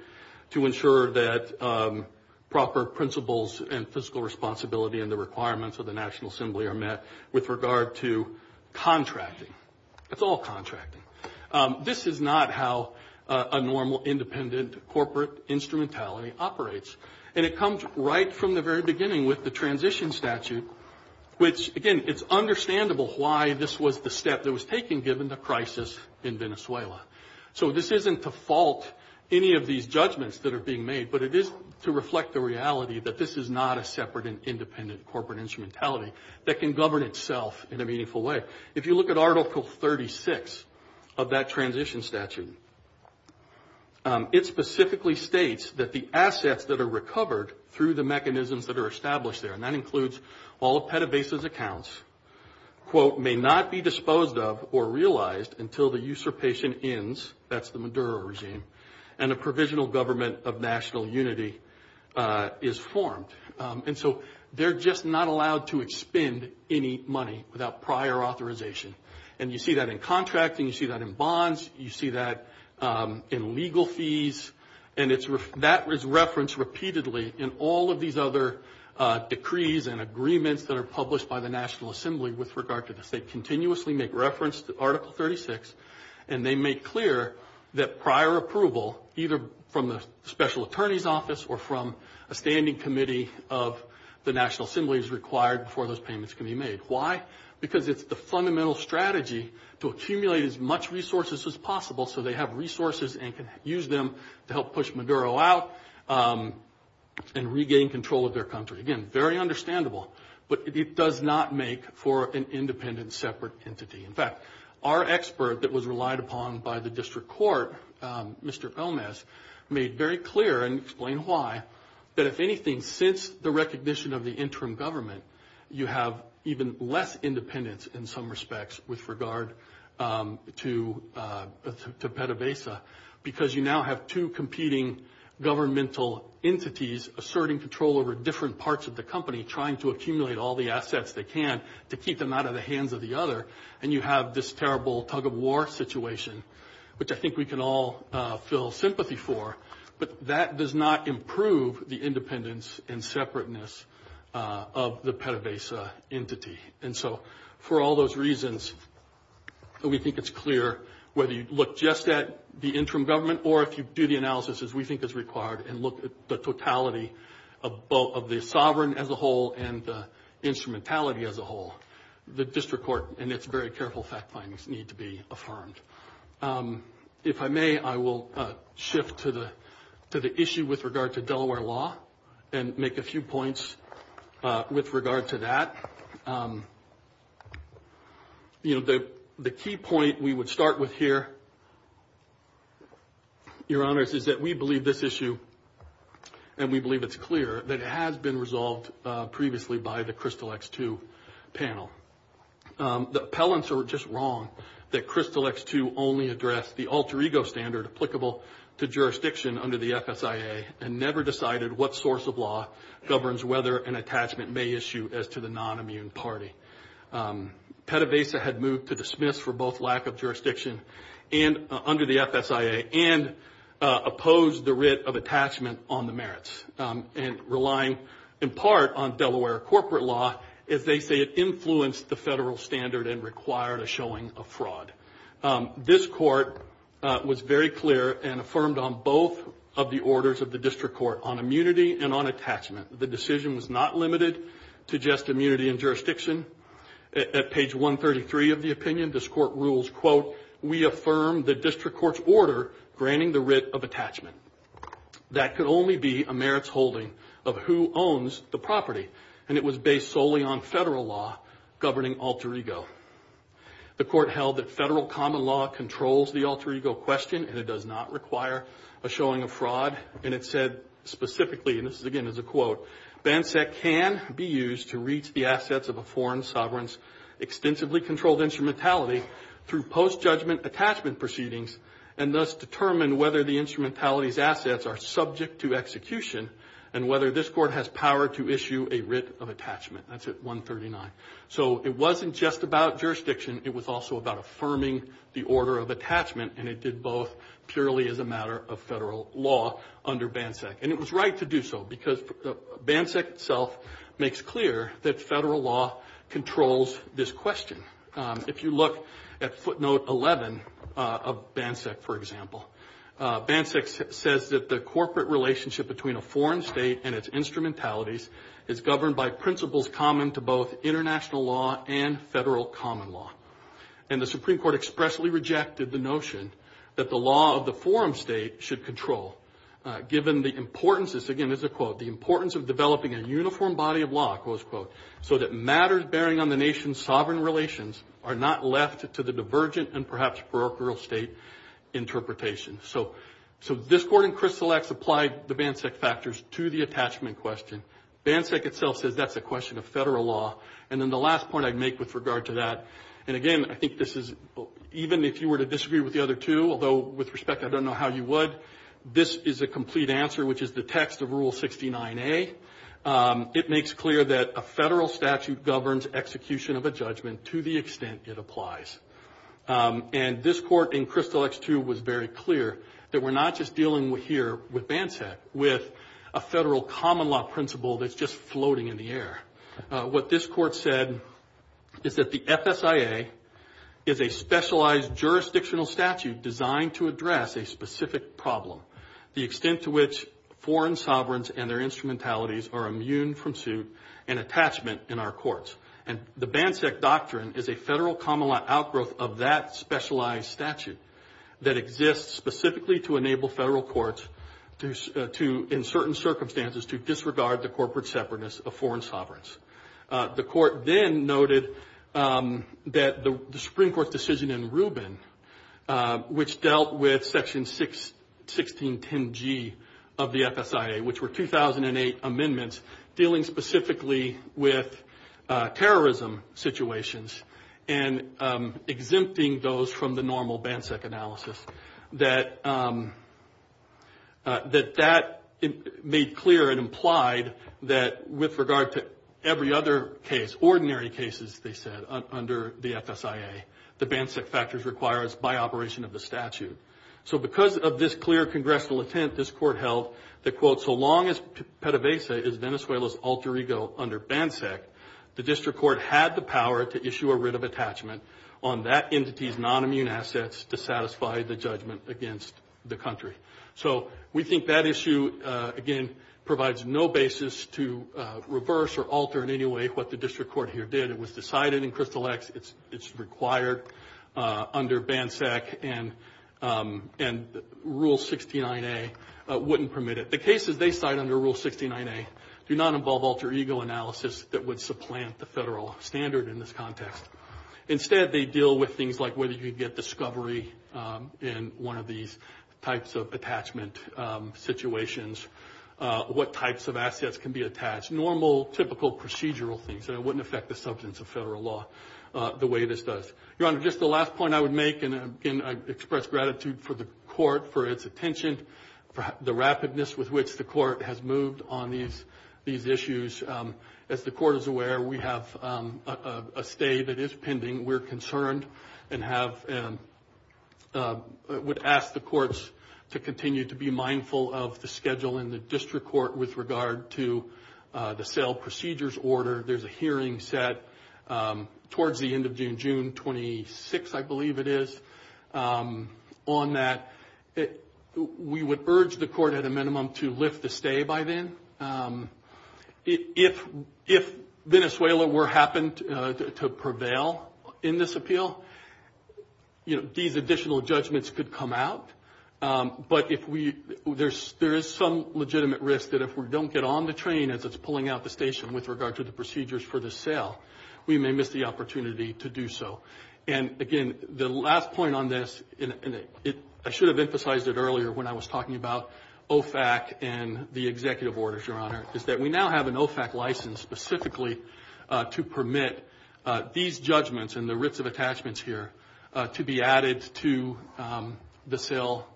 to ensure that proper principles and fiscal responsibility and the requirements of the National Assembly are met with regard to contracting. It's all contracting. This is not how a normal independent corporate instrumentality operates. And it comes right from the very beginning with the transition statute, which, again, it's understandable why this was the step that was taken given the crisis in Venezuela. So this isn't to fault any of these judgments that are being made, but it is to reflect the reality that this is not a separate and independent corporate instrumentality that can govern itself in a meaningful way. If you look at Article 36 of that transition statute, it specifically states that the assets that are recovered through the mechanisms that are established there, and that includes all of PETAVASA's accounts, quote, may not be disposed of or realized until the usurpation ends, that's the Maduro regime, and a provisional government of national unity is formed. And so they're just not allowed to expend any money without prior authorization. And you see that in contracting. You see that in bonds. You see that in legal fees. And that is referenced repeatedly in all of these other decrees and agreements that are published by the National Assembly with regard to this. They continuously make reference to Article 36, and they make clear that prior approval, either from the special attorney's office or from a standing committee of the National Assembly, is required before those payments can be made. Why? Because it's the fundamental strategy to accumulate as much resources as possible so they have resources and can use them to help push Maduro out and regain control of their country. Again, very understandable, but it does not make for an independent separate entity. In fact, our expert that was relied upon by the district court, Mr. Gomez, made very clear and explained why, that if anything, since the recognition of the interim government, you have even less independence in some respects with regard to PDVSA because you now have two competing governmental entities asserting control over different parts of the company, trying to accumulate all the assets they can to keep them out of the hands of the other, and you have this terrible tug-of-war situation, which I think we can all feel sympathy for, but that does not improve the independence and separateness of the PDVSA entity. And so for all those reasons, we think it's clear whether you look just at the interim government or if you do the analysis as we think is required and look at the totality of both the sovereign as a whole and the instrumentality as a whole, the district court and its very careful fact findings need to be affirmed. If I may, I will shift to the issue with regard to Delaware law and make a few points with regard to that. The key point we would start with here, Your Honors, is that we believe this issue, and we believe it's clear, that it has been resolved previously by the Crystal X2 panel. The appellants are just wrong that Crystal X2 only addressed the alter ego standard applicable to jurisdiction under the FSIA and never decided what source of law governs whether an attachment may issue as to the non-immune party. PDVSA had moved to dismiss for both lack of jurisdiction under the FSIA and opposed the writ of attachment on the merits and relying in part on Delaware corporate law as they say it influenced the federal standard and required a showing of fraud. This court was very clear and affirmed on both of the orders of the district court on immunity and on attachment. The decision was not limited to just immunity and jurisdiction. At page 133 of the opinion, this court rules, quote, we affirm the district court's order granting the writ of attachment. That could only be a merits holding of who owns the property, and it was based solely on federal law governing alter ego. The court held that federal common law controls the alter ego question and it does not require a showing of fraud. And it said specifically, and this again is a quote, BANSEC can be used to reach the assets of a foreign sovereign's extensively controlled instrumentality through post-judgment attachment proceedings and thus determine whether the instrumentality's assets are subject to execution and whether this court has power to issue a writ of attachment. That's at 139. So it wasn't just about jurisdiction. It was also about affirming the order of attachment, and it did both purely as a matter of federal law under BANSEC. And it was right to do so because BANSEC itself makes clear that federal law controls this question. If you look at footnote 11 of BANSEC, for example, BANSEC says that the corporate relationship between a foreign state and its instrumentalities is governed by principles common to both international law and federal common law. And the Supreme Court expressly rejected the notion that the law of the foreign state should control, given the importance, this again is a quote, the importance of developing a uniform body of law, close quote, so that matters bearing on the nation's sovereign relations are not left to the divergent and perhaps parochial state interpretation. So this court in Crystal X applied the BANSEC factors to the attachment question. BANSEC itself says that's a question of federal law. And then the last point I'd make with regard to that, and again I think this is even if you were to disagree with the other two, although with respect I don't know how you would, this is a complete answer which is the text of Rule 69A. It makes clear that a federal statute governs execution of a judgment to the extent it applies. And this court in Crystal X too was very clear that we're not just dealing here with BANSEC, with a federal common law principle that's just floating in the air. What this court said is that the FSIA is a specialized jurisdictional statute designed to address a specific problem, the extent to which foreign sovereigns and their instrumentalities are immune from suit and attachment in our courts. And the BANSEC doctrine is a federal common law outgrowth of that specialized statute that exists specifically to enable federal courts to, in certain circumstances, to disregard the corporate separateness of foreign sovereigns. The court then noted that the Supreme Court decision in Rubin, which dealt with Section 1610G of the FSIA, which were 2008 amendments dealing specifically with terrorism situations and exempting those from the normal BANSEC analysis, that that made clear and implied that with regard to every other case, ordinary cases, they said, under the FSIA, the BANSEC factors require us by operation of the statute. So because of this clear congressional intent, this court held that, quote, so long as PDVSA is Venezuela's alter ego under BANSEC, the district court had the power to issue a writ of attachment on that entity's nonimmune assets to satisfy the judgment against the country. So we think that issue, again, provides no basis to reverse or alter in any way what the district court here did. It was decided in Crystal X it's required under BANSEC, and Rule 69A wouldn't permit it. The cases they cite under Rule 69A do not involve alter ego analysis that would supplant the federal standard in this context. Instead, they deal with things like whether you get discovery in one of these types of attachment situations, what types of assets can be attached, normal, typical procedural things, and it wouldn't affect the substance of federal law the way this does. Your Honor, just the last point I would make, and, again, I express gratitude for the court for its attention, the rapidness with which the court has moved on these issues. As the court is aware, we have a stay that is pending. We're concerned and would ask the courts to continue to be mindful of the schedule in the district court with regard to the sale procedures order. There's a hearing set towards the end of June, June 26, I believe it is, on that. We would urge the court at a minimum to lift the stay by then. If Venezuela were happened to prevail in this appeal, these additional judgments could come out. But there is some legitimate risk that if we don't get on the train as it's pulling out the station with regard to the procedures for the sale, we may miss the opportunity to do so. And, again, the last point on this, and I should have emphasized it earlier when I was talking about OFAC and the executive orders, Your Honor, is that we now have an OFAC license specifically to permit these judgments and the writs of attachments here to be added to the sale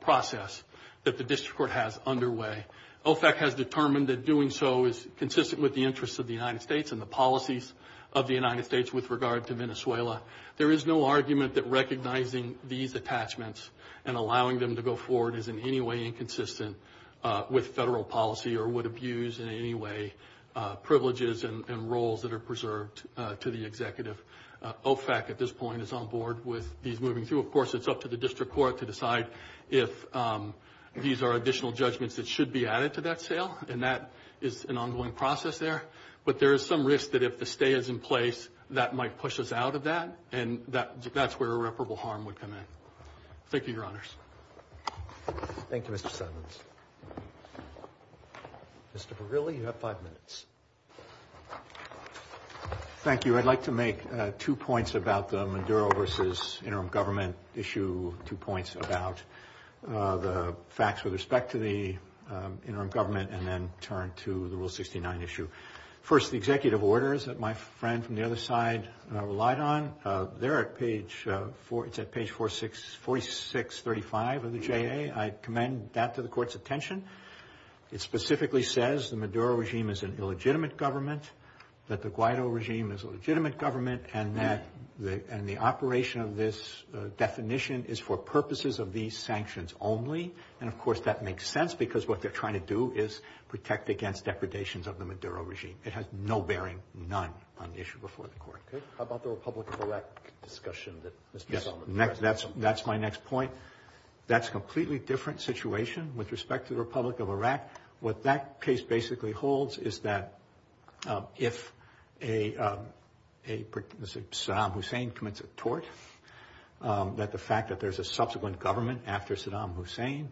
process that the district court has underway. OFAC has determined that doing so is consistent with the interests of the United States and the policies of the United States with regard to Venezuela. There is no argument that recognizing these attachments and allowing them to go forward is in any way inconsistent with federal policy or would abuse in any way privileges and roles that are preserved to the executive. OFAC at this point is on board with these moving through. Of course, it's up to the district court to decide if these are additional judgments that should be added to that sale, and that is an ongoing process there. But there is some risk that if the stay is in place, that might push us out of that, and that's where irreparable harm would come in. Thank you, Your Honors. Thank you, Mr. Simons. Mr. Berrilli, you have five minutes. Thank you. I'd like to make two points about the Maduro versus interim government issue, two points about the facts with respect to the interim government, and then turn to the Rule 69 issue. First, the executive orders that my friend from the other side relied on, they're at page 4635 of the JA. I commend that to the Court's attention. It specifically says the Maduro regime is an illegitimate government, that the Guaido regime is a legitimate government, and that the operation of this definition is for purposes of these sanctions only. And, of course, that makes sense because what they're trying to do is protect against depredations of the Maduro regime. It has no bearing, none, on the issue before the Court. How about the Republic of Iraq discussion that Mr. Simons raised? That's my next point. That's a completely different situation with respect to the Republic of Iraq. What that case basically holds is that if Saddam Hussein commits a tort, that the fact that there's a subsequent government after Saddam Hussein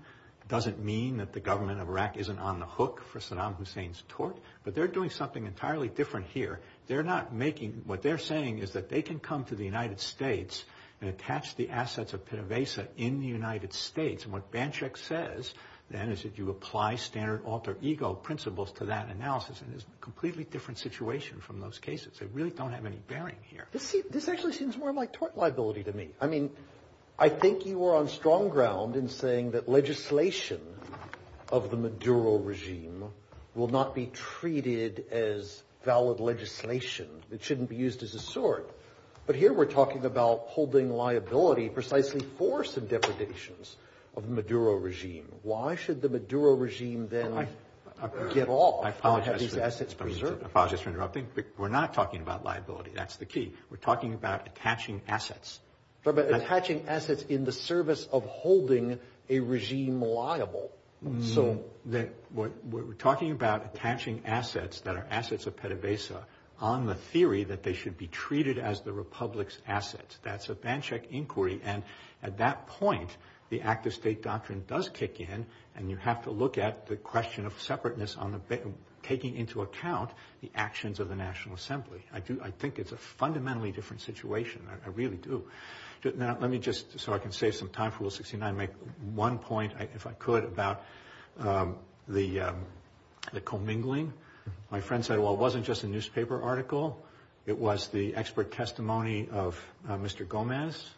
doesn't mean that the government of Iraq isn't on the hook for Saddam Hussein's tort, but they're doing something entirely different here. What they're saying is that they can come to the United States and attach the assets of Pena Vesa in the United States, and what Banchik says then is that you apply standard alter ego principles to that analysis, and it's a completely different situation from those cases. They really don't have any bearing here. This actually seems more like tort liability to me. I mean, I think you were on strong ground in saying that legislation of the Maduro regime will not be treated as valid legislation. It shouldn't be used as a sort. But here we're talking about holding liability precisely for some depredations of the Maduro regime. Why should the Maduro regime then get off of having these assets preserved? I apologize for interrupting, but we're not talking about liability. That's the key. We're talking about attaching assets. Attaching assets in the service of holding a regime liable. We're talking about attaching assets that are assets of Pena Vesa on the theory that they should be treated as the republic's assets. That's a Banchik inquiry, and at that point, the act of state doctrine does kick in, and you have to look at the question of separateness taking into account the actions of the National Assembly. I think it's a fundamentally different situation. I really do. Let me just, so I can save some time for Rule 69, make one point, if I could, about the commingling. My friend said, well, it wasn't just a newspaper article. It was the expert testimony of Mr. Gomez.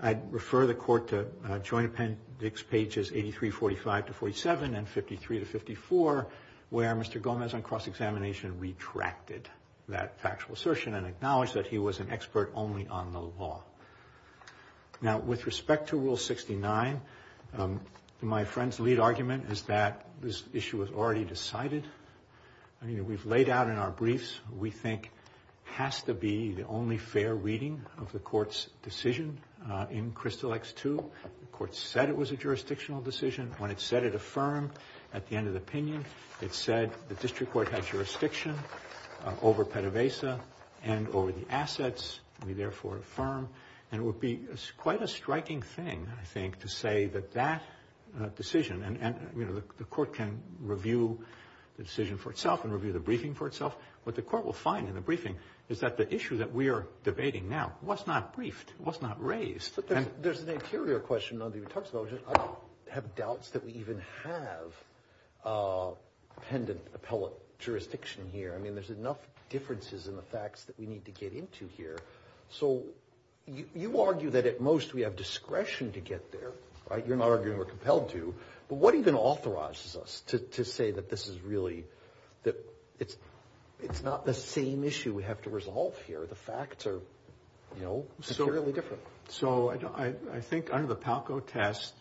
I'd refer the Court to Joint Appendix pages 83, 45 to 47, and 53 to 54, where Mr. Gomez, on cross-examination, retracted that factual assertion and acknowledged that he was an expert only on the law. Now, with respect to Rule 69, my friend's lead argument is that this issue was already decided. We've laid out in our briefs what we think has to be the only fair reading of the Court's decision in Crystal X-2. The Court said it was a jurisdictional decision. When it said it affirmed, at the end of the opinion, it said the district court had jurisdiction over PDVSA and over the assets, we therefore affirm. And it would be quite a striking thing, I think, to say that that decision, and, you know, the Court can review the decision for itself and review the briefing for itself. What the Court will find in the briefing is that the issue that we are debating now was not briefed, was not raised. But there's an interior question that you talked about, which is I have doubts that we even have pendent appellate jurisdiction here. I mean, there's enough differences in the facts that we need to get into here. So you argue that at most we have discretion to get there, right? You're not arguing we're compelled to. But what even authorizes us to say that this is really, that it's not the same issue we have to resolve here? The facts are, you know, severely different. So I think under the Palco test,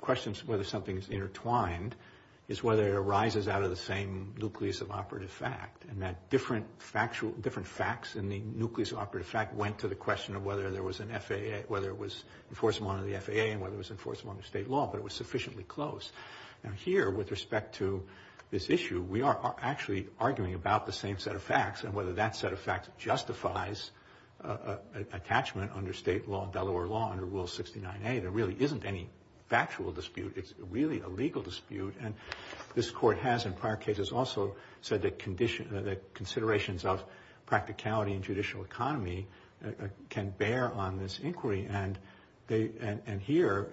questions whether something's intertwined is whether it arises out of the same nucleus of operative fact, and that different facts in the nucleus of operative fact went to the question of whether there was an FAA, whether it was enforceable under the FAA and whether it was enforceable under state law, but it was sufficiently close. Now here, with respect to this issue, we are actually arguing about the same set of facts and whether that set of facts justifies attachment under state law, Delaware law, under Rule 69A. There really isn't any factual dispute. It's really a legal dispute. And this Court has in prior cases also said that considerations of practicality and judicial economy can bear on this inquiry. And here,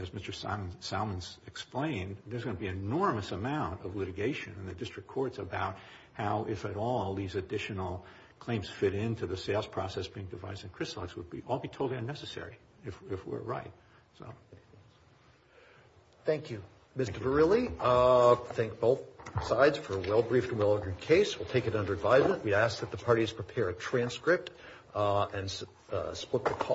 as Mr. Salmons explained, there's going to be an enormous amount of litigation in the district courts about how, if at all, these additional claims fit into the sales process being devised in Crislogs. It would all be totally unnecessary if we're right. Thank you, Mr. Verrilli. Thank both sides for a well-briefed and well-ordered case. We'll take it under advisement. We ask that the parties prepare a transcript and split the call.